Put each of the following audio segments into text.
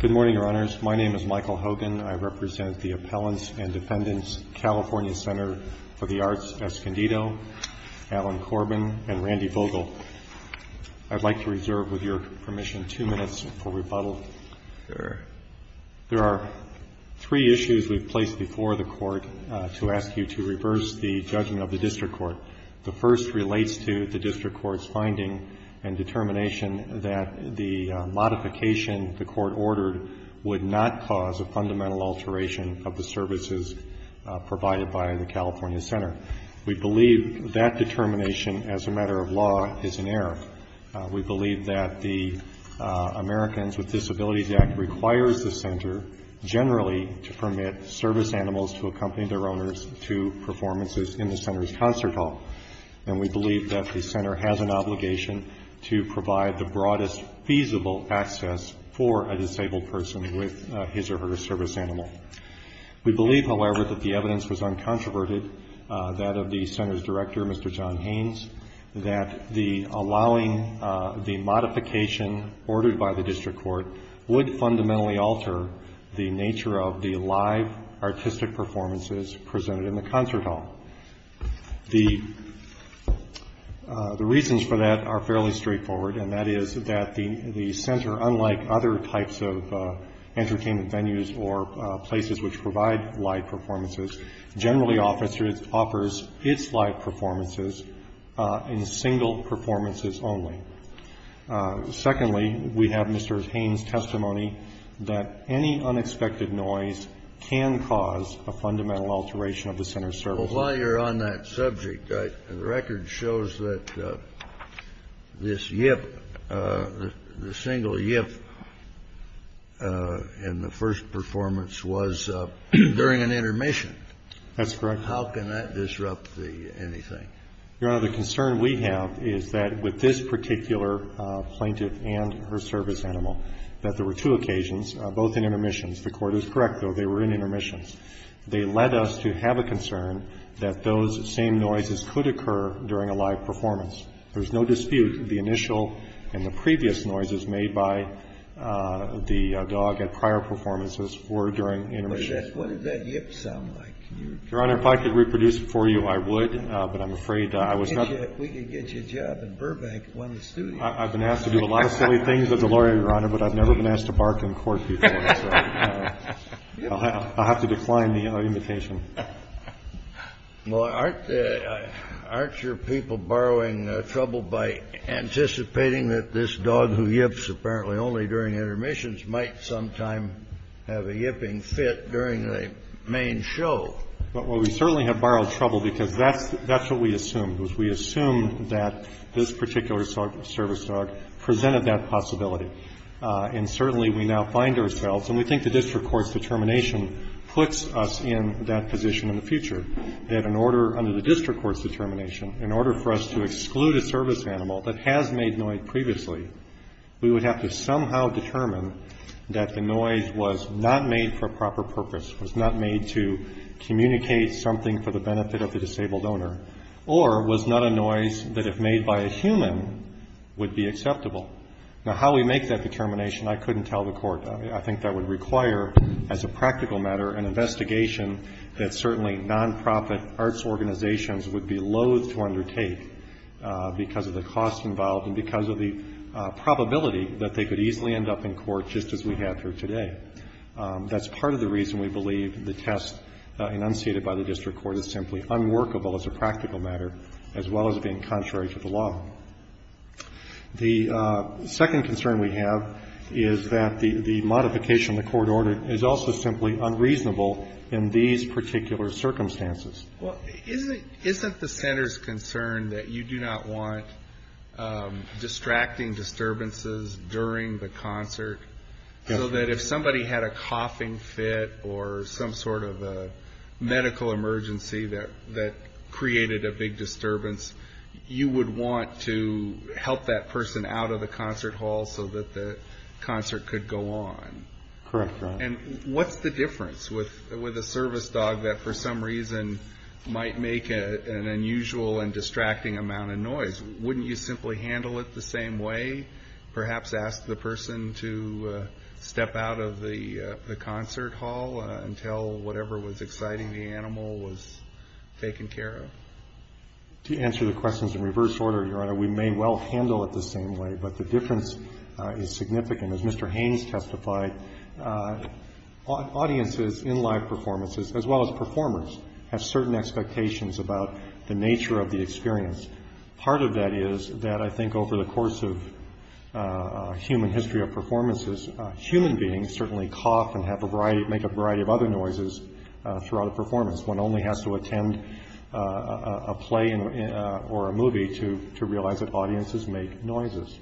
Good morning, Your Honors. My name is Michael Hogan. I represent the Appellants and Defendants California Center for the Arts Escondido, Alan Corbin and Randy Vogel. I'd like to reserve with your permission two minutes for rebuttal. There are three issues we've placed before the Court to ask you to reverse the judgment of the District Court. The first relates to the District Court's finding and determination that the modification the Court ordered would not cause a fundamental alteration of the services provided by the California Center. We believe that determination as a matter of law is in error. We believe that the Americans with Disabilities Act requires the Center generally to permit service animals to accompany their owners to performances in the Center's concert hall, and we believe that the Center has an obligation to provide the broadest feasible access for a disabled person with his or her service animal. We believe, however, that the evidence was uncontroverted, that of the Center's director, Mr. John Haynes, that allowing the modification ordered by the District Court to permit service animals to accompany their owners to performances in the Center's concert hall. The reasons for that are fairly straightforward, and that is that the Center, unlike other types of entertainment venues or places which provide live performances, generally offers its live performances in single performances only. Secondly, we have Mr. Haynes' testimony that any unexpected noise can cause a fundamental alteration of the Center's services. Kennedy. Well, while you're on that subject, the record shows that this yip, the single yip in the first performance was during an intermission. Gershengorn. That's correct. Kennedy. How can that disrupt anything? Gershengorn. Your Honor, the concern we have is that with this particular plaintiff and her service animal, that there were two occasions, both in intermissions. The Court is correct, though, they were in intermissions. They led us to have a concern that those same noises could occur during a live performance. There's no dispute the initial and the previous noises made by the dog at prior performances were during intermissions. Kennedy. But what does that yip sound like? Gershengorn. Your Honor, if I could reproduce it for you, I would, but I'm afraid I was not able to. Kennedy. We could get you a job in Burbank, one of the studios. Gershengorn. I've been asked to do a lot of silly things as a lawyer, Your Honor, but I've never been asked to bark in court before. I'll have to decline the invitation. Kennedy. Well, aren't your people borrowing trouble by anticipating that this dog who yips apparently only during intermissions might sometime have a yipping fit during the main show? Gershengorn. Well, we certainly have borrowed trouble because that's what we assumed, was we assumed that this particular service dog presented that possibility. And certainly we now find ourselves, and we think the district court's determination puts us in that position in the future, that in order, under the district court's determination, in order for us to exclude a service animal that has made noise previously, we would have to somehow determine that the noise was not made for a proper purpose, was not made to communicate something for the benefit of the disabled owner, or was not a noise that if made by a human would be acceptable. Now, how we make that determination, I couldn't tell the Court. I think that would require, as a practical matter, an investigation that certainly nonprofit arts organizations would be loathe to undertake because of the cost involved and because of the probability that they could easily end up in court just as we have here today. That's part of the reason we believe the test enunciated by the district court is simply unworkable as a practical matter, as well as being contrary to the law. The second concern we have is that the modification of the court order is also simply unreasonable in these particular circumstances. Well, isn't the Center's concern that you do not want distracting disturbances during the concert, so that if somebody had a coughing fit or some sort of a medical emergency that created a big disturbance, you would want to help that person out of the concert hall so that the concert could go on? Correct, Your Honor. And what's the difference with a service dog that, for some reason, might make an unusual and distracting amount of noise? Wouldn't you simply handle it the same way? Perhaps ask the person to step out of the concert hall and tell whatever was exciting the animal was taken care of. To answer the questions in reverse order, Your Honor, we may well handle it the same way, but the difference is significant. As Mr. Haynes testified, audiences in live performances, as well as performers, have certain expectations about the nature of the experience. Part of that is that I think over the course of human history of performances, human beings certainly cough and have a variety, make a variety of other noises throughout a performance. One only has to attend a play or a movie to realize that audiences make noises.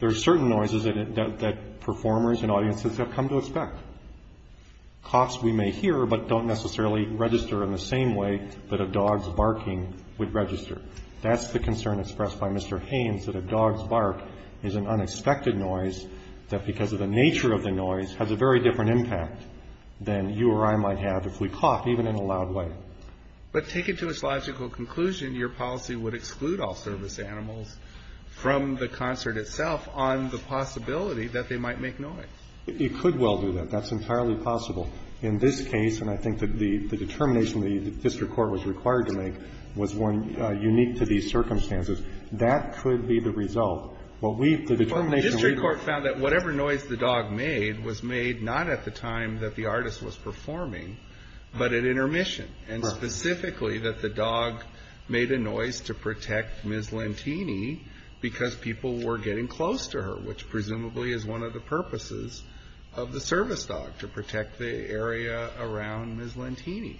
There are certain noises that performers and audiences have come to expect, coughs we may hear but don't necessarily register in the same way that a dog's barking would register. That's the concern expressed by Mr. Haynes, that a dog's bark is an unexpected noise that because of the nature of the noise has a very different impact than you or I might have if we coughed even in a loud way. But take it to its logical conclusion, your policy would exclude all service animals from the concert itself on the possibility that they might make noise. It could well do that. That's entirely possible. In this case, and I think that the determination the district court was required to make was one unique to these circumstances, that could be the result. But we, the determination we made... The district court found that whatever noise the dog made was made not at the time that the artist was performing, but at intermission, and specifically that the dog made a noise to protect Ms. Lentini because people were getting close to her, which presumably is one of the purposes of the service dog, to protect the area around Ms. Lentini.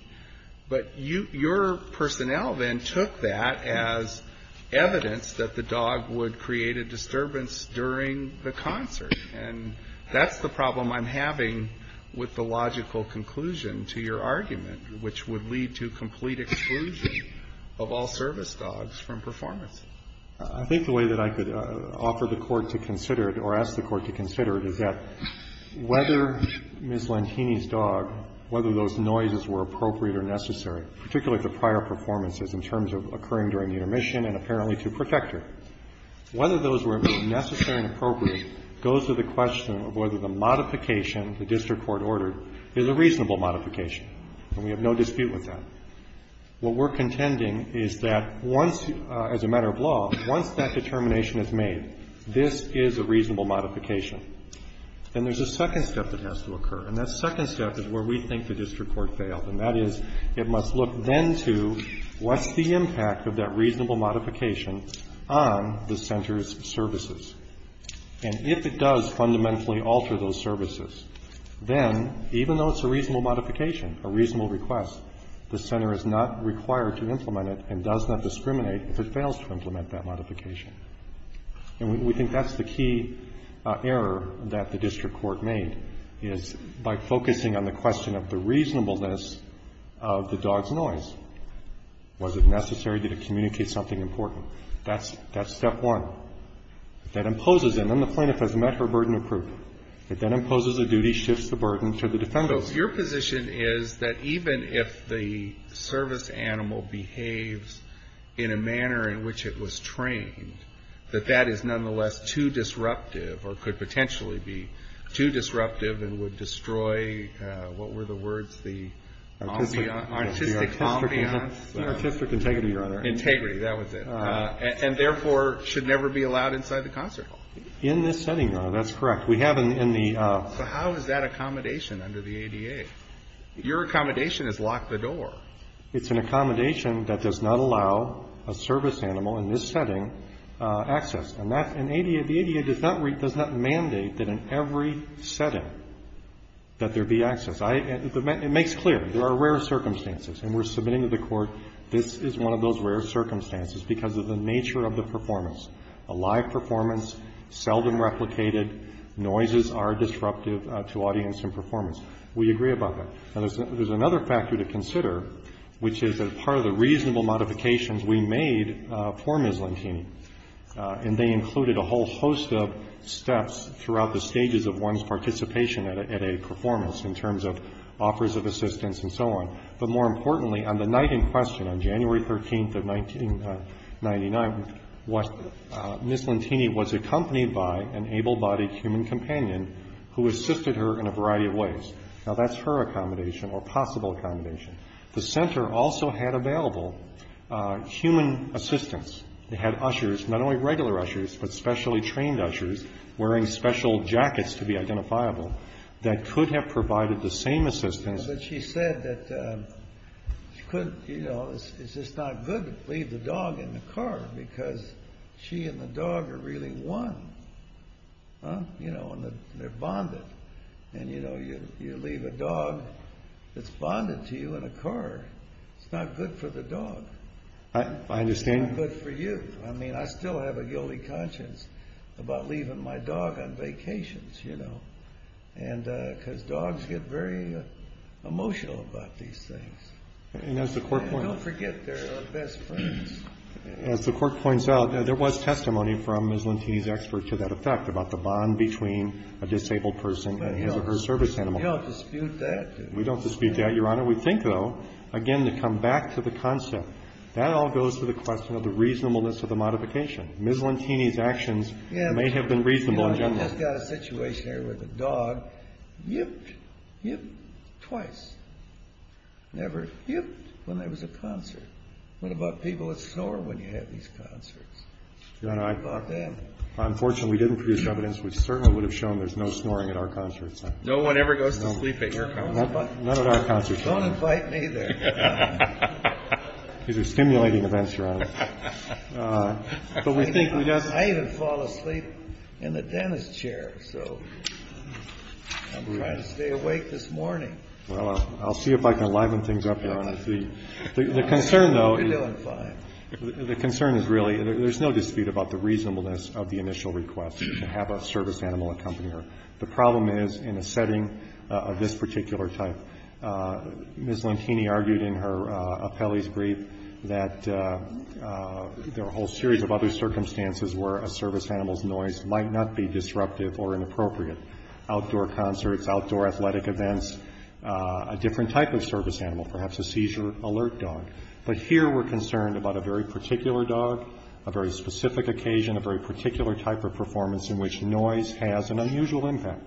But your personnel then took that as evidence that the dog would create a disturbance during the concert. And that's the problem I'm having with the logical conclusion to your argument, which would lead to complete exclusion of all service dogs from performance. I think the way that I could offer the Court to consider it or ask the Court to consider it is that whether Ms. Lentini's dog, whether those noises were appropriate or necessary, particularly the prior performances in terms of occurring during the intermission and apparently to protect her, whether those were necessary and appropriate goes to the question of whether the modification the district court ordered is a reasonable modification, and we have no dispute with that. What we're contending is that once, as a matter of law, once that determination is made, this is a reasonable modification, then there's a second step that has to occur. And that second step is where we think the district court failed, and that is it must look then to what's the impact of that reasonable modification on the center's services. And if it does fundamentally alter those services, then, even though it's a reasonable modification, a reasonable request, the center is not required to implement it and does not discriminate if it fails to implement that modification. And we think that's the key error that the district court made, is by focusing on the question of the reasonableness of the dog's noise, was it necessary, did it communicate something important? That's step one. If that imposes it, then the plaintiff has met her burden of proof. If that imposes a duty, shifts the burden to the defendants. Alito, your position is that even if the service animal behaves in a manner in which it was trained, that that is nonetheless too disruptive or could potentially be too disruptive and would destroy, what were the words, the artistic ambiance? Artistic integrity, Your Honor. Integrity, that was it, and therefore should never be allowed inside the concert hall. In this setting, Your Honor, that's correct. We have in the- So how is that accommodation under the ADA? Your accommodation is lock the door. It's an accommodation that does not allow a service animal in this setting access. And that's an ADA, the ADA does not mandate that in every setting that there be access. It makes clear, there are rare circumstances, and we're submitting to the Court, this is one of those rare circumstances because of the nature of the performance. A live performance, seldom replicated, noises are disruptive to audience and performance. We agree about that. Now, there's another factor to consider, which is that part of the reasonable modifications we made for Ms. Lentini, and they included a whole host of steps throughout the stages of one's participation at a performance in terms of offers of assistance and so on. But more importantly, on the night in question, on January 13th of 1999, Ms. Lentini was accompanied by an able-bodied human companion who assisted her in a variety of ways. Now, that's her accommodation or possible accommodation. The center also had available human assistance. They had ushers, not only regular ushers, but specially trained ushers, wearing special jackets to be identifiable, that could have provided the same assistance. But she said that she couldn't, you know, it's just not good to leave the dog in the car because she and the dog are really one, you know, and they're bonded. And, you know, you leave a dog that's bonded to you in a car. It's not good for the dog. I understand. It's not good for you. I mean, I still have a guilty conscience about leaving my dog on vacations, you know. And because dogs get very emotional about these things. And as the court points out, there was testimony from Ms. Lentini's expert to that effect about the bond between a disabled person and his or her service animal. We don't dispute that. We don't dispute that, Your Honor. We think, though, again, to come back to the concept. That all goes to the question of the reasonableness of the modification. Ms. Lentini's actions may have been reasonable in general. I just got a situation here where the dog yipped, yipped twice. Never yipped when there was a concert. What about people that snore when you have these concerts? Your Honor, I'm fortunate. If we didn't produce evidence, we certainly would have shown there's no snoring at our concerts. No one ever goes to sleep at your concerts. None at our concerts, Your Honor. Don't invite me there. These are stimulating events, Your Honor. But we think, we just. I even fall asleep in the dentist chair. So I'm trying to stay awake this morning. Well, I'll see if I can liven things up, Your Honor. The concern, though. You're doing fine. The concern is really, there's no dispute about the reasonableness of the initial request to have a service animal accompany her. The problem is in a setting of this particular type. Ms. Lentini argued in her appellee's brief that there are a whole series of other circumstances where a service animal's noise might not be disruptive or inappropriate. Outdoor concerts, outdoor athletic events, a different type of service animal, perhaps a seizure alert dog. But here we're concerned about a very particular dog, a very specific occasion, a very particular type of performance in which noise has an unusual impact.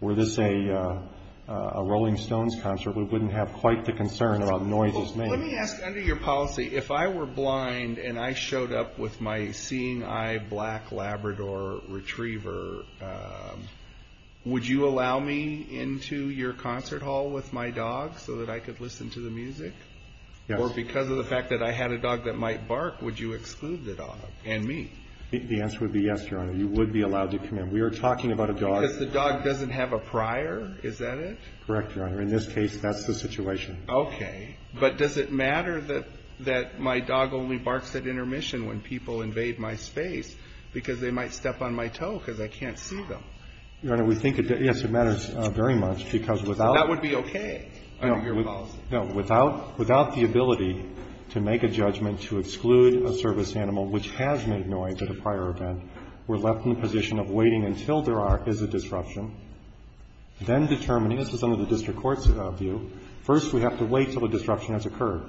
Were this a Rolling Stones concert, we wouldn't have quite the concern about noises made. Let me ask, under your policy, if I were blind and I showed up with my seeing eye black Labrador retriever, would you allow me into your concert hall with my dog so that I could listen to the music? Or because of the fact that I had a dog that might bark, would you exclude the dog and me? The answer would be yes, Your Honor. You would be allowed to come in. We are talking about a dog. Because the dog doesn't have a prior, is that it? Correct, Your Honor. In this case, that's the situation. Okay. But does it matter that my dog only barks at intermission when people invade my space because they might step on my toe because I can't see them? Your Honor, we think, yes, it matters very much because without. That would be okay under your policy. No, without the ability to make a judgment to exclude a service animal which has made noise at a prior event, we're left in the position of waiting until there is a disruption, then determining, this is under the district court's view, first we have to wait until the disruption has occurred.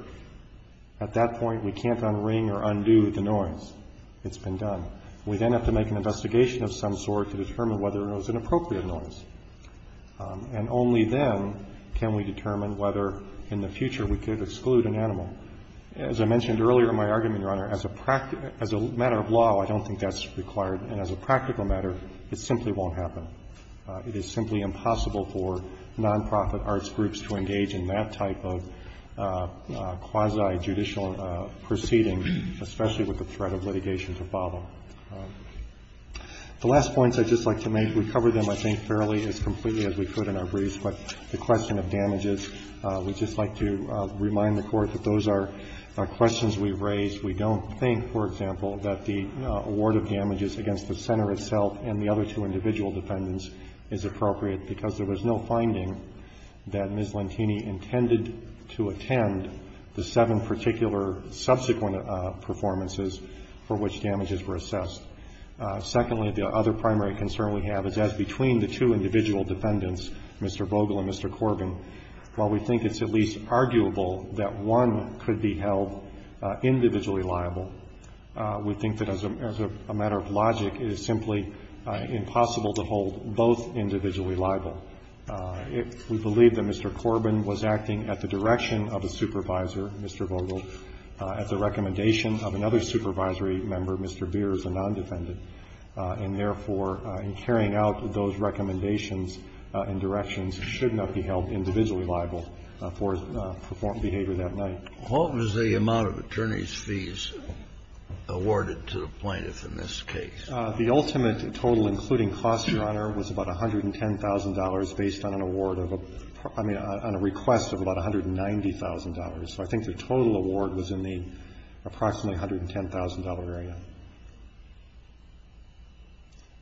At that point, we can't unring or undo the noise. It's been done. We then have to make an investigation of some sort to determine whether it was an appropriate noise. And only then can we determine whether in the future we could exclude an animal. As I mentioned earlier in my argument, Your Honor, as a matter of law, I don't think that's required. And as a practical matter, it simply won't happen. It is simply impossible for nonprofit arts groups to engage in that type of quasi-judicial proceeding, especially with the threat of litigation to follow. The last points I'd just like to make, we covered them, I think, fairly, as completely as we could in our briefs. But the question of damages, we'd just like to remind the Court that those are questions we've raised. We don't think, for example, that the award of damages against the center itself and the other two individual defendants is appropriate because there was no finding that Ms. Lentini intended to attend the seven particular subsequent performances for which damages were assessed. Secondly, the other primary concern we have is that between the two individual defendants, Mr. Vogel and Mr. Corbin, while we think it's at least arguable that one could be held individually liable, we think that as a matter of logic, it is simply impossible to hold both individually liable. We believe that Mr. Corbin was acting at the direction of a supervisor, Mr. Vogel, at the recommendation of another supervisory member, Mr. Beers, a non-defendant. And therefore, in carrying out those recommendations and directions, he should not be held individually liable for his performed behavior that night. Kennedy. What was the amount of attorney's fees awarded to the plaintiff in this case? The ultimate total, including costs, Your Honor, was about $110,000 based on an award of a, I mean, on a request of about $190,000. So I think the total award was in the approximately $110,000 area,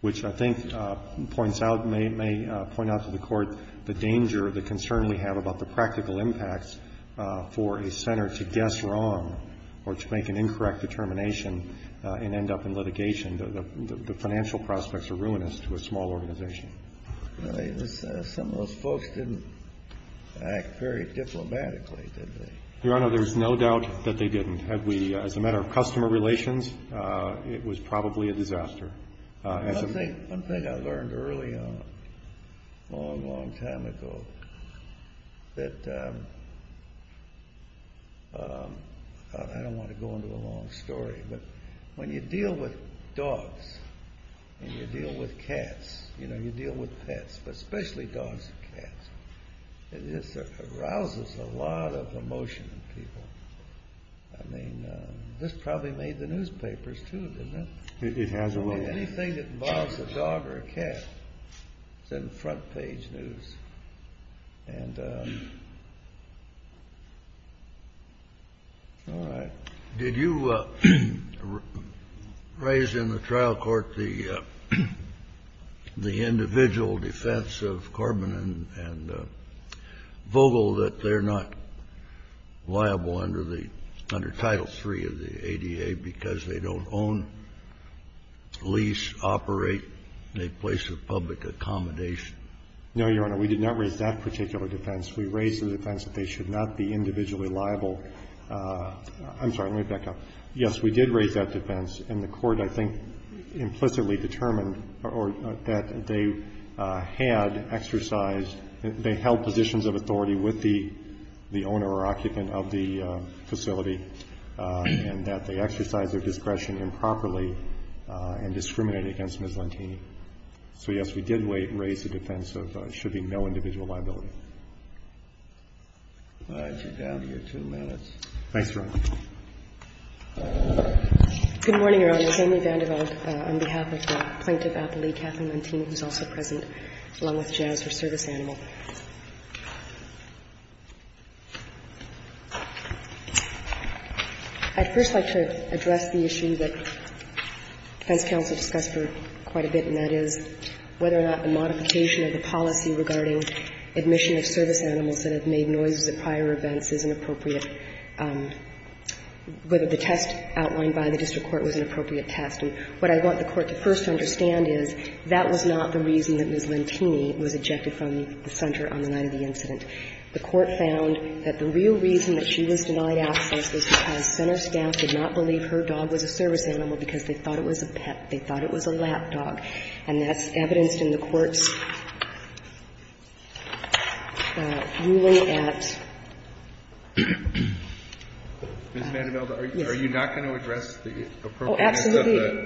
which I think points out, may point out to the Court the danger, the concern we have about the practical impacts for a center to guess wrong or to make an incorrect determination and end up in litigation. The financial prospects are ruinous to a small organization. Some of those folks didn't act very diplomatically, did they? Your Honor, there's no doubt that they didn't. As a matter of customer relations, it was probably a disaster. One thing I learned early on, a long, long time ago, that I don't want to go into a long story, but when you deal with dogs and you deal with cats, you know, you deal with pets, but especially dogs and cats, it just arouses a lot of emotion in people. I mean, this probably made the newspapers, too, didn't it? It has a little. I mean, anything that involves a dog or a cat is in front-page news. And all right. Did you raise in the trial court the individual defense of Corbin and Vogel, that they're not liable under Title III of the ADA because they don't own, lease, operate, make place of public accommodation? No, Your Honor. We did not raise that particular defense. We raised the defense that they should not be individually liable. I'm sorry. Let me back up. Yes, we did raise that defense, and the Court, I think, implicitly determined or that they had exercised, they held positions of authority with the owner or occupant of the facility and that they exercised their discretion improperly and discriminated against Ms. Lantini. So, yes, we did raise the defense of there should be no individual liability. All right. You're down to your two minutes. Thanks, Your Honor. Good morning, Your Honor. Amy Vanderbilt on behalf of the Plaintiff Appellee, Kathleen Lantini, who is also present, along with Jazz, her service animal. I'd first like to address the issue that defense counsel discussed for quite a bit and that is whether or not the modification of the policy regarding admission of service animals that have made noises at prior events is an appropriate – whether the test outlined by the district court was an appropriate test. And what I want the Court to first understand is that was not the reason that Ms. Lantini was ejected from the center on the night of the incident. The Court found that the real reason that she was denied access was because center staff did not believe her dog was a service animal because they thought it was a pet. They thought it was a lap dog. And that's evidenced in the Court's ruling at – Ms. Vanderbilt, are you not going to address the appropriateness of the – Oh,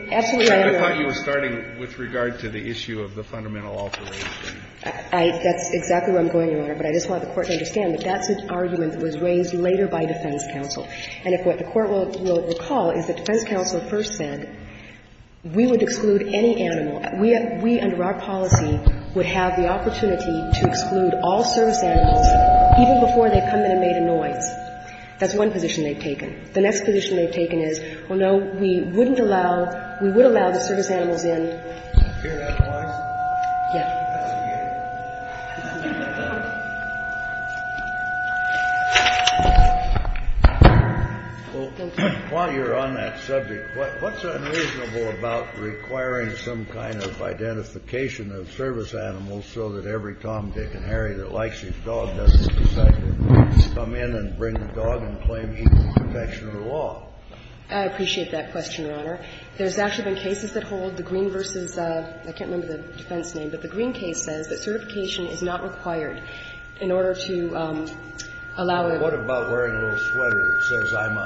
absolutely. Absolutely, Your Honor. I thought you were starting with regard to the issue of the fundamental alteration. I – that's exactly where I'm going, Your Honor. But I just want the Court to understand that that's an argument that was raised later by defense counsel. And if what the Court will recall is that defense counsel first said, we would exclude any animal. We, under our policy, would have the opportunity to exclude all service animals even before they come in and made a noise. That's one position they've taken. The next position they've taken is, well, no, we wouldn't allow – we would allow the service animals in. Do you hear that noise? Yeah. That's a deer. Well, while you're on that subject, what's unreasonable about requiring some kind of identification of service animals so that every Tom, Dick and Harry that likes each dog doesn't decide to come in and bring the dog and claim equal protection of the I appreciate that question, Your Honor. There's actually been cases that hold the green versus – I can't remember the defense name, but the green case says that certification is not required in order to allow it. Well, what about wearing a little sweater that says, I'm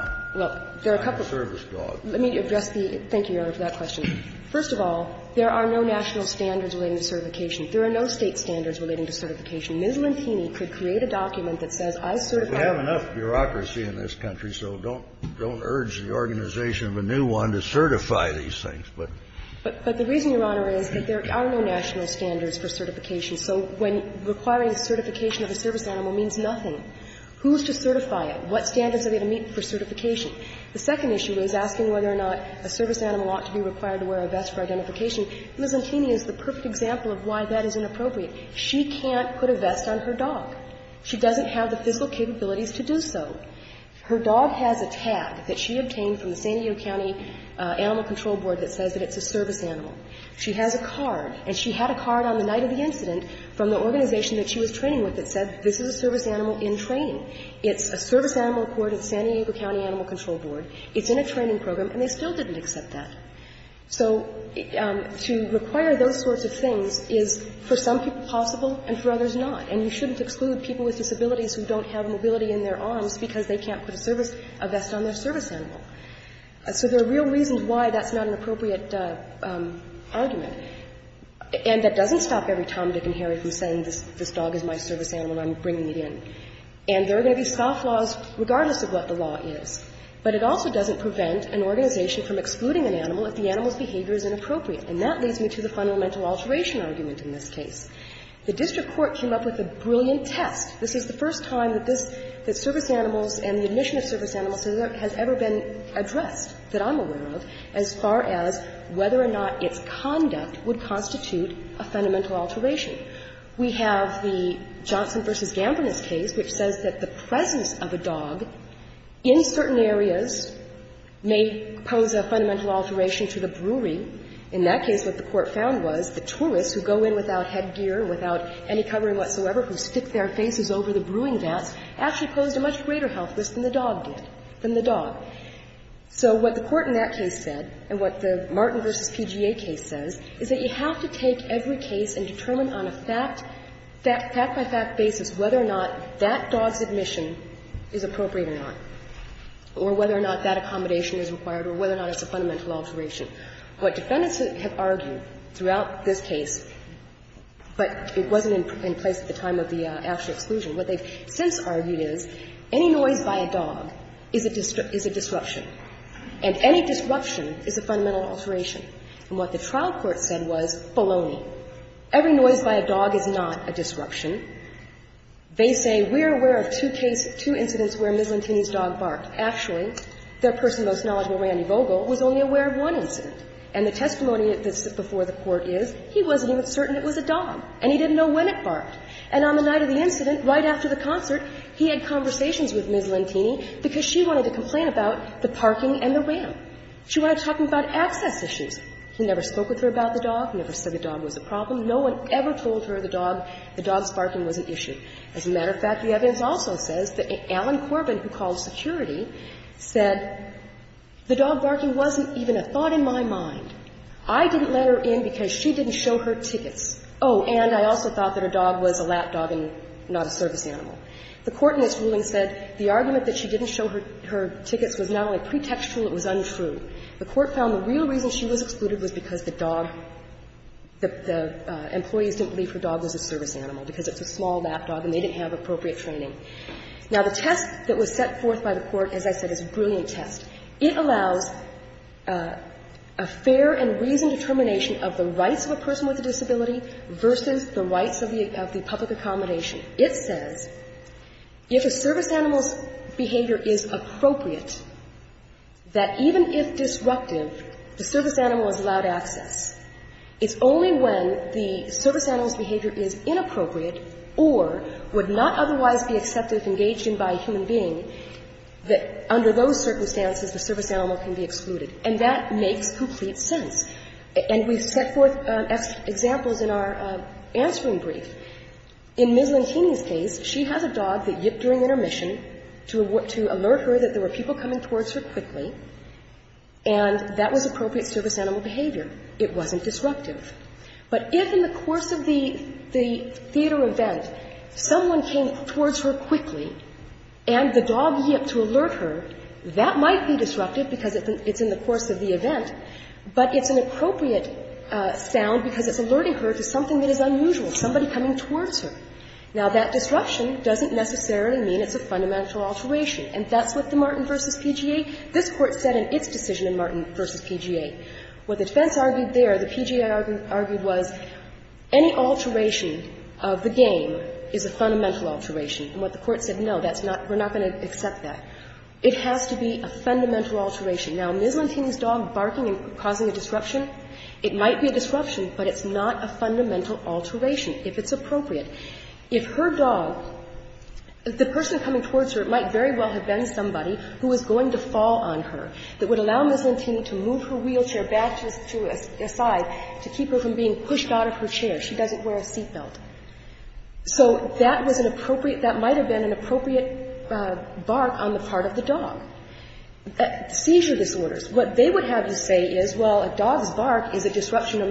a service dog? Let me address the – thank you, Your Honor, for that question. First of all, there are no national standards relating to certification. There are no State standards relating to certification. Ms. Lantini could create a document that says, I certify. We have enough bureaucracy in this country, so don't urge the organization of a new one to certify these things. But the reason, Your Honor, is that there are no national standards for certification. So when requiring certification of a service animal means nothing. Who's to certify it? What standards are they going to meet for certification? The second issue is asking whether or not a service animal ought to be required to wear a vest for identification. Ms. Lantini is the perfect example of why that is inappropriate. She can't put a vest on her dog. She doesn't have the physical capabilities to do so. Her dog has a tag that she obtained from the San Diego County Animal Control Board that says that it's a service animal. She has a card, and she had a card on the night of the incident from the organization that she was training with that said this is a service animal in train. It's a service animal accorded to the San Diego County Animal Control Board. It's in a training program, and they still didn't accept that. So to require those sorts of things is, for some people, possible and for others And you shouldn't exclude people with disabilities who don't have mobility in their arms because they can't put a service – a vest on their service animal. So there are real reasons why that's not an appropriate argument. And that doesn't stop every Tom, Dick and Harry from saying this dog is my service animal and I'm bringing it in. And there are going to be soft laws regardless of what the law is. But it also doesn't prevent an organization from excluding an animal if the animal's behavior is inappropriate. And that leads me to the fundamental alteration argument in this case. The district court came up with a brilliant test. This is the first time that this – that service animals and the admission of service animals has ever been addressed, that I'm aware of, as far as whether or not its conduct would constitute a fundamental alteration. We have the Johnson v. Gambrenous case, which says that the presence of a dog in certain areas may pose a fundamental alteration to the brewery. In that case, what the Court found was the tourists who go in without headgear, without any covering whatsoever, who stick their faces over the brewing vats, actually posed a much greater health risk than the dog did, than the dog. So what the Court in that case said, and what the Martin v. PGA case says, is that you have to take every case and determine on a fact – fact-by-fact basis whether or not that dog's admission is appropriate or not, or whether or not that accommodation is required, or whether or not it's a fundamental alteration. What defendants have argued throughout this case, but it wasn't in place at the time of the actual exclusion, what they've since argued is any noise by a dog is a – is a disruption, and any disruption is a fundamental alteration. And what the trial court said was baloney. Every noise by a dog is not a disruption. They say we're aware of two cases, two incidents where a miscellaneous dog barked. Actually, their person most knowledgeable, Randy Vogel, was only aware of one incident. And the testimony that's before the Court is he wasn't even certain it was a dog, and he didn't know when it barked. And on the night of the incident, right after the concert, he had conversations with Ms. Lentini because she wanted to complain about the parking and the ramp. She wanted to talk about access issues. He never spoke with her about the dog, never said the dog was a problem. As a matter of fact, the evidence also says that Alan Corbin, who called security, said the dog barking wasn't even a thought in my mind. I didn't let her in because she didn't show her tickets. Oh, and I also thought that her dog was a lap dog and not a service animal. The Court in this ruling said the argument that she didn't show her tickets was not only pretextual, it was untrue. The Court found the real reason she was excluded was because the dog, the employees didn't believe her dog was a service animal because it's a small lap dog and they didn't have appropriate training. Now, the test that was set forth by the Court, as I said, is a brilliant test. It allows a fair and reasoned determination of the rights of a person with a disability versus the rights of the public accommodation. It says if a service animal's behavior is appropriate, that even if disruptive, the service animal's behavior is inappropriate or would not otherwise be accepted and engaged in by a human being, that under those circumstances the service animal can be excluded. And that makes complete sense. And we've set forth examples in our answering brief. In Ms. Lantini's case, she has a dog that yipped during intermission to alert her that there were people coming towards her quickly, and that was appropriate service animal behavior. It wasn't disruptive. But if in the course of the theater event someone came towards her quickly and the dog yipped to alert her, that might be disruptive because it's in the course of the event, but it's an appropriate sound because it's alerting her to something that is unusual, somebody coming towards her. Now, that disruption doesn't necessarily mean it's a fundamental alteration. And that's what the Martin v. PGA, this Court said in its decision in Martin v. PGA. What the defense argued there, the PGA argued, was any alteration of the game is a fundamental alteration. And what the Court said, no, that's not, we're not going to accept that. It has to be a fundamental alteration. Now, Ms. Lantini's dog barking and causing a disruption, it might be a disruption, but it's not a fundamental alteration, if it's appropriate. If her dog, the person coming towards her, it might very well have been somebody who was going to fall on her that would allow Ms. Lantini to move her wheelchair back to a side to keep her from being pushed out of her chair. She doesn't wear a seat belt. So that was an appropriate, that might have been an appropriate bark on the part of the dog. Seizure disorders, what they would have you say is, well, a dog's bark is a disruption no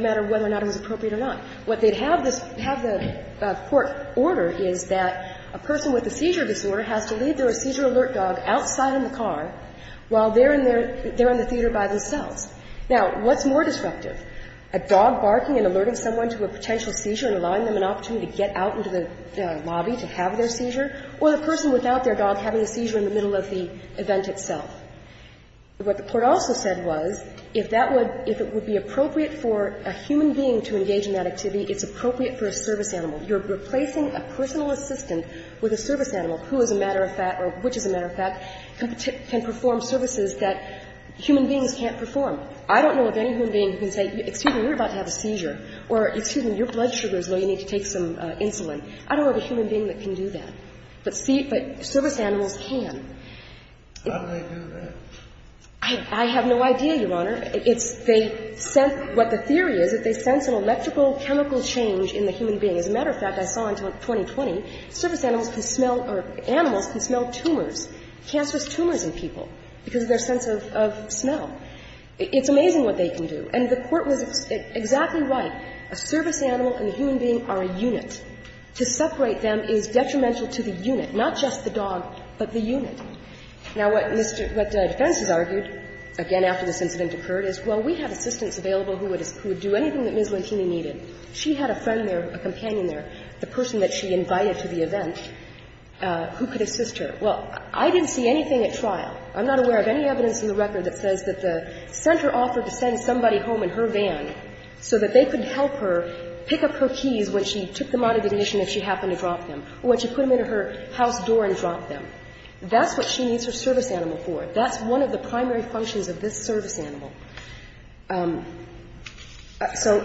matter whether or not it was appropriate or not. What they'd have the Court order is that a person with a seizure disorder has to leave their seizure alert dog outside in the car while they're in their, they're in the theater by themselves. Now, what's more disruptive? A dog barking and alerting someone to a potential seizure and allowing them an opportunity to get out into the lobby to have their seizure, or the person without their dog having a seizure in the middle of the event itself? What the Court also said was, if that would, if it would be appropriate for a human being to engage in that activity, it's appropriate for a service animal. You're replacing a personal assistant with a service animal who, as a matter of fact, or which, as a matter of fact, can perform services that human beings can't perform. I don't know of any human being who can say, excuse me, you're about to have a seizure, or excuse me, your blood sugar is low, you need to take some insulin. I don't know of a human being that can do that. But service animals can. How do they do that? I have no idea, Your Honor. It's, they sense, what the theory is, that they sense an electrical chemical change in the human being. As a matter of fact, I saw in 2020, service animals can smell, or animals can smell tumors, cancerous tumors in people because of their sense of, of smell. It's amazing what they can do. And the Court was exactly right. A service animal and a human being are a unit. To separate them is detrimental to the unit, not just the dog, but the unit. Now, what Defense has argued, again, after this incident occurred, is, well, we have assistants available who would do anything that Ms. Lantini needed. She had a friend there, a companion there, the person that she invited to the event, who could assist her. Well, I didn't see anything at trial. I'm not aware of any evidence in the record that says that the center offered to send somebody home in her van so that they could help her pick up her keys when she took them out of ignition if she happened to drop them, or when she put them into her house door and dropped them. That's what she needs her service animal for. That's one of the primary functions of this service animal. So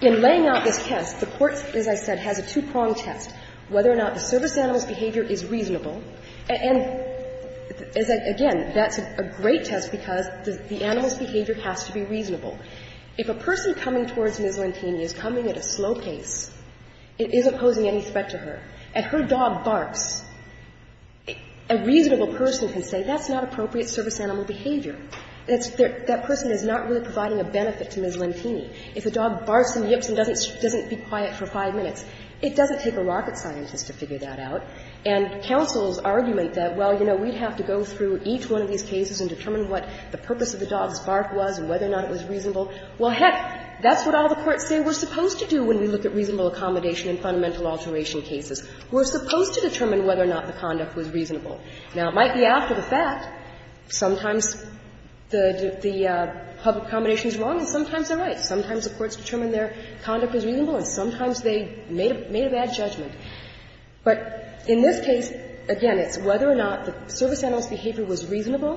in laying out this test, the Court, as I said, has a two-pronged test, whether or not the service animal's behavior is reasonable. And, again, that's a great test because the animal's behavior has to be reasonable. If a person coming towards Ms. Lantini is coming at a slow pace and isn't posing any threat to her, and her dog barks, a reasonable person can say that's not appropriate service animal behavior. That person is not really providing a benefit to Ms. Lantini. If a dog barks and yips and doesn't be quiet for five minutes, it doesn't take a rocket scientist to figure that out. And counsel's argument that, well, you know, we'd have to go through each one of these cases and determine what the purpose of the dog's bark was and whether or not it was reasonable, well, heck, that's what all the courts say we're supposed to do when we look at reasonable accommodation in fundamental alteration cases. We're supposed to determine whether or not the conduct was reasonable. Now, it might be after the fact. Sometimes the public accommodation is wrong and sometimes they're right. Sometimes the courts determine their conduct was reasonable and sometimes they made a bad judgment. But in this case, again, it's whether or not the service animal's behavior was reasonable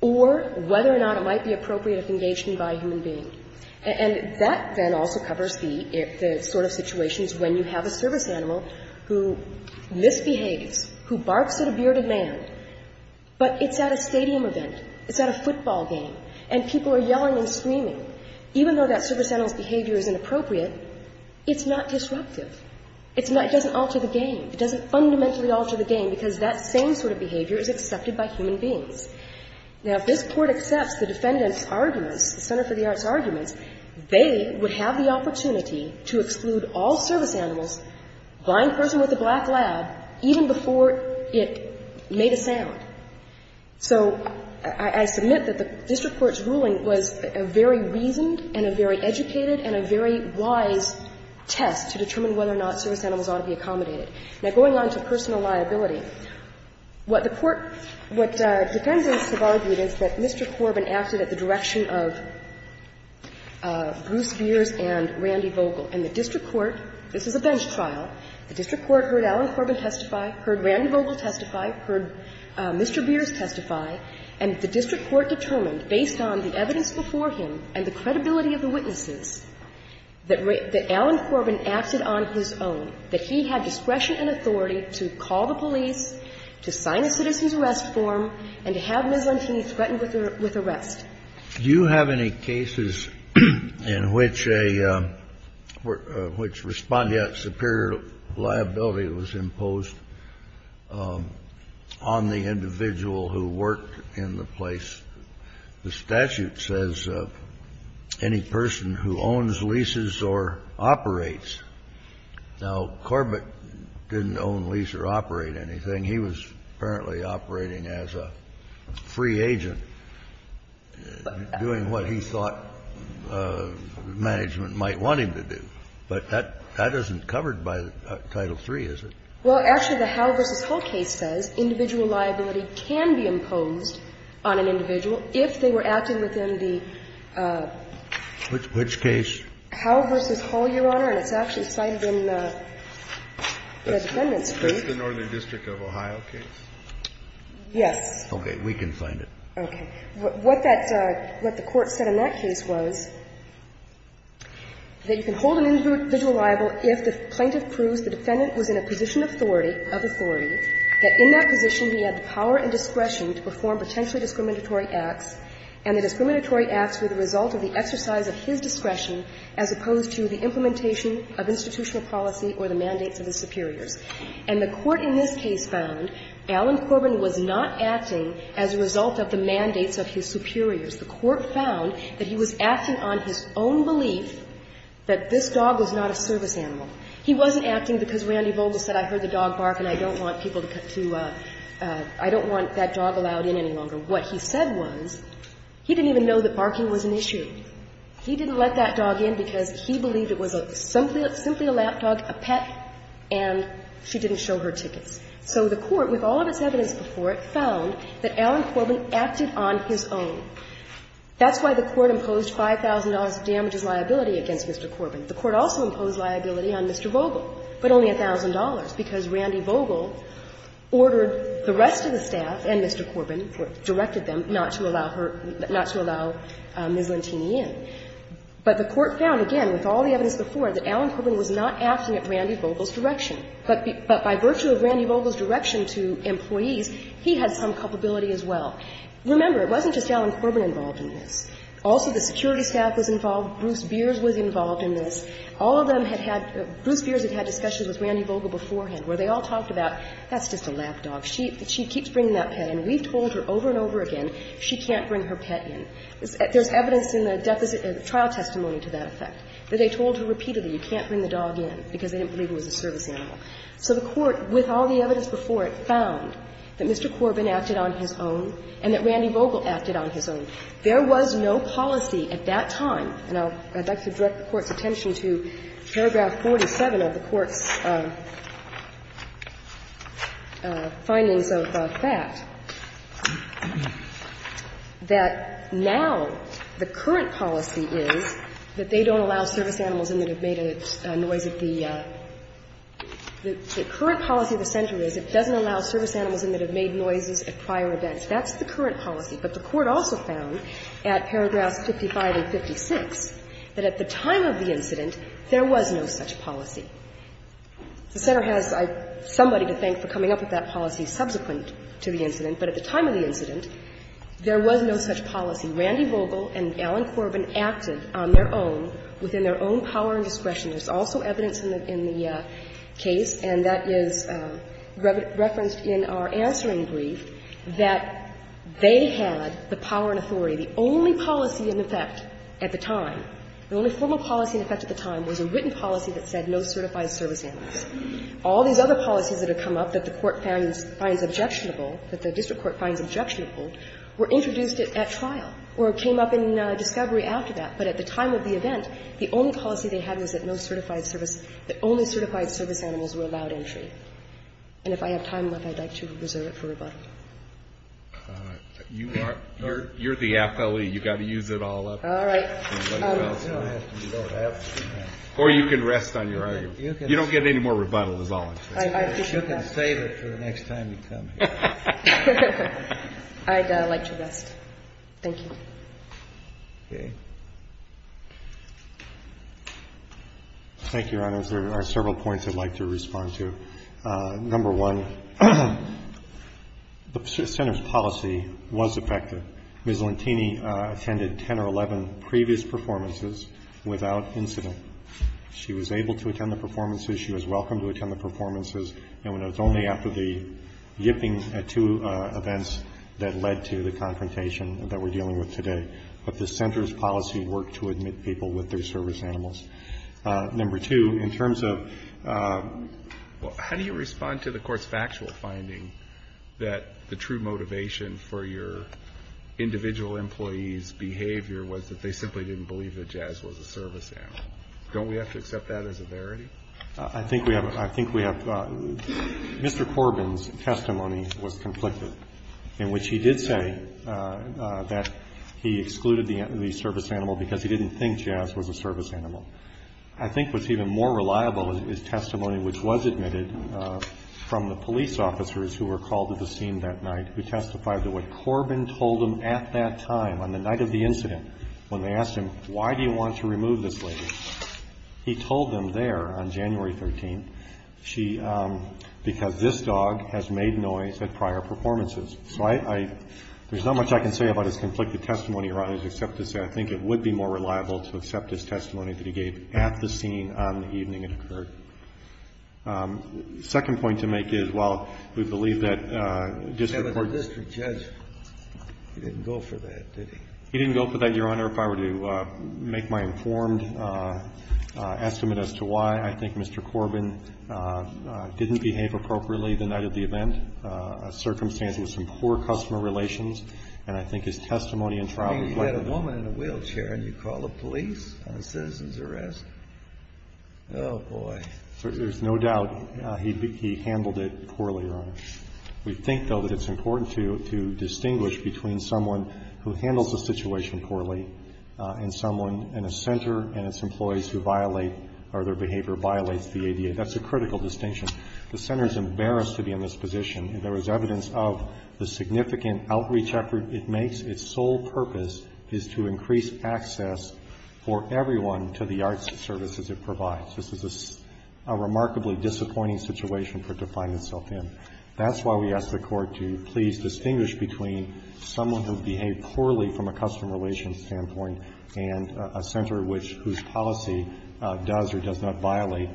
or whether or not it might be appropriate if engaged in by a human being. And that then also covers the sort of situations when you have a service animal who misbehaves, who barks at a bearded man, but it's at a stadium event, it's at a football game, and people are yelling and screaming. Even though that service animal's behavior is inappropriate, it's not disruptive. It's not – it doesn't alter the game. It doesn't fundamentally alter the game because that same sort of behavior is accepted by human beings. Now, if this Court accepts the defendant's arguments, the Center for the Arts' arguments, they would have the opportunity to exclude all service animals, blind person with a black lab, even before it made a sound. So I submit that the district court's ruling was a very reasoned and a very educated and a very wise test to determine whether or not service animals ought to be accommodated. Now, going on to personal liability, what the court – what defendants have argued is that Mr. Corbin acted at the direction of Bruce Beers and Randy Vogel. And the district court – this is a bench trial. The district court heard Alan Corbin testify, heard Randy Vogel testify, heard Mr. Beers testify. And the district court determined, based on the evidence before him and the credibility of the witnesses, that Alan Corbin acted on his own, that he had discretion and authority to call the police, to sign a citizen's arrest form, and to have Ms. Lantini threatened with arrest. Do you have any cases in which a – which respond to that superior liability was imposed on the individual who worked in the place? The statute says any person who owns, leases, or operates. Now, Corbin didn't own, lease, or operate anything. He was apparently operating as a free agent, doing what he thought management might want him to do. But that isn't covered by Title III, is it? Well, actually, the Howe v. Hull case says individual liability can be imposed on an individual if they were acting within the – Which case? Howe v. Hull, Your Honor, and it's actually cited in the defendant's case. That's the Northern District of Ohio case? Yes. Okay. We can find it. Okay. What that – what the Court said in that case was that you can hold an individual liable if the plaintiff proves the defendant was in a position of authority of authority, that in that position he had the power and discretion to perform potentially discriminatory acts, and the discriminatory acts were the result of the exercise of his discretion as opposed to the implementation of institutional policy or the mandates of his superiors. And the Court in this case found Alan Corbin was not acting as a result of the mandates of his superiors. The Court found that he was acting on his own belief that this dog was not a service animal. He wasn't acting because Randy Vogel said, I heard the dog bark and I don't want people to – I don't want that dog allowed in any longer. What he said was he didn't even know that barking was an issue. He didn't let that dog in because he believed it was simply a lapdog, a pet, and she didn't show her tickets. So the Court, with all of its evidence before it, found that Alan Corbin acted on his own. That's why the Court imposed $5,000 of damages liability against Mr. Corbin. The Court also imposed liability on Mr. Vogel, but only $1,000, because Randy Vogel ordered the rest of the staff, and Mr. Corbin directed them, not to allow her – not to allow Ms. Lantini in. But the Court found, again, with all the evidence before it, that Alan Corbin was not acting at Randy Vogel's direction. But by virtue of Randy Vogel's direction to employees, he had some culpability as well. Remember, it wasn't just Alan Corbin involved in this. Also, the security staff was involved. Bruce Beers was involved in this. All of them had had – Bruce Beers had had discussions with Randy Vogel beforehand, where they all talked about, that's just a lap dog. She keeps bringing that pet in. We've told her over and over again, she can't bring her pet in. There's evidence in the trial testimony to that effect, that they told her repeatedly, you can't bring the dog in, because they didn't believe it was a service animal. So the Court, with all the evidence before it, found that Mr. Corbin acted on his own and that Randy Vogel acted on his own. There was no policy at that time – and I'd like to direct the Court's attention to paragraph 47 of the Court's findings of that, that now the current policy is that they don't allow service animals in that have made a noise at the – the current policy of the center is it doesn't allow service animals in that have made noises at prior events. That's the current policy. But the Court also found at paragraphs 55 and 56 that at the time of the incident, there was no such policy. The center has somebody to thank for coming up with that policy subsequent to the incident, but at the time of the incident, there was no such policy. Randy Vogel and Alan Corbin acted on their own, within their own power and discretion. There's also evidence in the case, and that is referenced in our answering brief, that they had the power and authority. The only policy in effect at the time, the only formal policy in effect at the time was a written policy that said no certified service animals. All these other policies that have come up that the Court finds objectionable, that the district court finds objectionable, were introduced at trial or came up in discovery after that. But at the time of the event, the only policy they had was that no certified service – that only certified service animals were allowed entry. And if I have time left, I'd like to reserve it for rebuttal. You are – you're the appellee. You've got to use it all up. All right. Or you can rest on your argument. You don't get any more rebuttal is all I'm saying. You can save it for the next time you come here. I'd like to rest. Thank you. Okay. Thank you, Your Honor. There are several points I'd like to respond to. Number one, the Center's policy was effective. Ms. Lantini attended 10 or 11 previous performances without incident. She was able to attend the performances. She was welcome to attend the performances. And it was only after the yipping at two events that led to the confrontation that we're dealing with today. But the Center's policy worked to admit people with their service animals. Number two, in terms of – how do you respond to the Court's factual finding that the true motivation for your individual employee's behavior was that they simply didn't believe that Jazz was a service animal? Don't we have to accept that as a verity? I think we have – I think we have – Mr. Corbin's testimony was conflicted, in which he did say that he excluded the service animal because he didn't think I think what's even more reliable is testimony which was admitted from the police officers who were called to the scene that night who testified that what Corbin told them at that time, on the night of the incident, when they asked him, why do you want to remove this lady, he told them there on January 13, she – because this dog has made noise at prior performances. So I – there's not much I can say about his conflicted testimony, Your Honor, except to say I think it would be more reliable to accept his testimony that he gave at the scene on the evening it occurred. Second point to make is, while we believe that district court – He was a district judge. He didn't go for that, did he? He didn't go for that, Your Honor, if I were to make my informed estimate as to why. I think Mr. Corbin didn't behave appropriately the night of the event, a circumstance with some poor customer relations, and I think his testimony and trial – I mean, you had a woman in a wheelchair and you call the police on a citizen's arrest. Oh, boy. There's no doubt he handled it poorly, Your Honor. We think, though, that it's important to distinguish between someone who handles the situation poorly and someone in a center and its employees who violate or their behavior violates the ADA. That's a critical distinction. The center is embarrassed to be in this position. There is evidence of the significant outreach effort. It makes its sole purpose is to increase access for everyone to the arts services it provides. This is a remarkably disappointing situation for it to find itself in. That's why we ask the Court to please distinguish between someone who behaved poorly from a customer relations standpoint and a center which – whose policy does or does not violate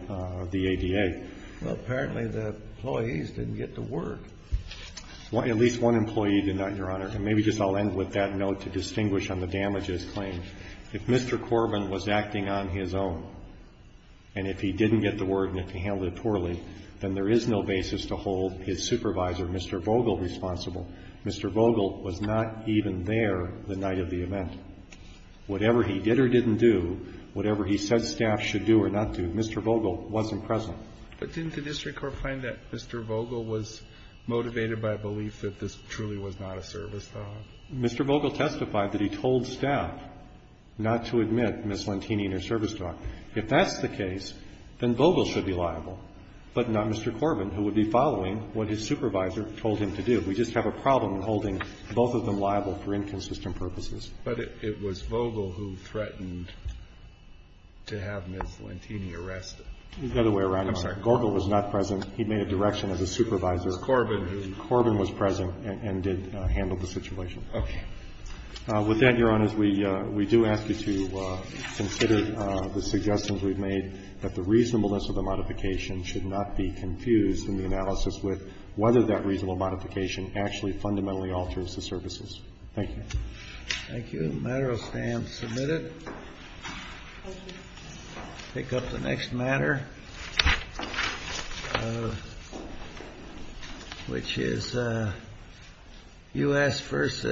the ADA. Well, apparently the employees didn't get to work. At least one employee did not, Your Honor. And maybe just I'll end with that note to distinguish on the damages claim. If Mr. Corbin was acting on his own and if he didn't get the word and if he handled it poorly, then there is no basis to hold his supervisor, Mr. Vogel, responsible. Mr. Vogel was not even there the night of the event. Whatever he did or didn't do, whatever he said staff should do or not do, Mr. Vogel wasn't present. But didn't the district court find that Mr. Vogel was motivated by a belief that this truly was not a service dog? Mr. Vogel testified that he told staff not to admit Ms. Lantini in a service dog. If that's the case, then Vogel should be liable, but not Mr. Corbin, who would be following what his supervisor told him to do. We just have a problem holding both of them liable for inconsistent purposes. But it was Vogel who threatened to have Ms. Lantini arrested. He's got a way around it. I'm sorry. Gorgel was not present. He made a direction of his supervisor. Mr. Corbin. Corbin was present and did handle the situation. Okay. With that, Your Honors, we do ask you to consider the suggestions we've made that the reasonableness of the modification should not be confused in the analysis with whether that reasonable modification actually fundamentally alters the services. Thank you. Thank you. The matter stands submitted. Thank you. I'll pick up the next matter, which is U.S. versus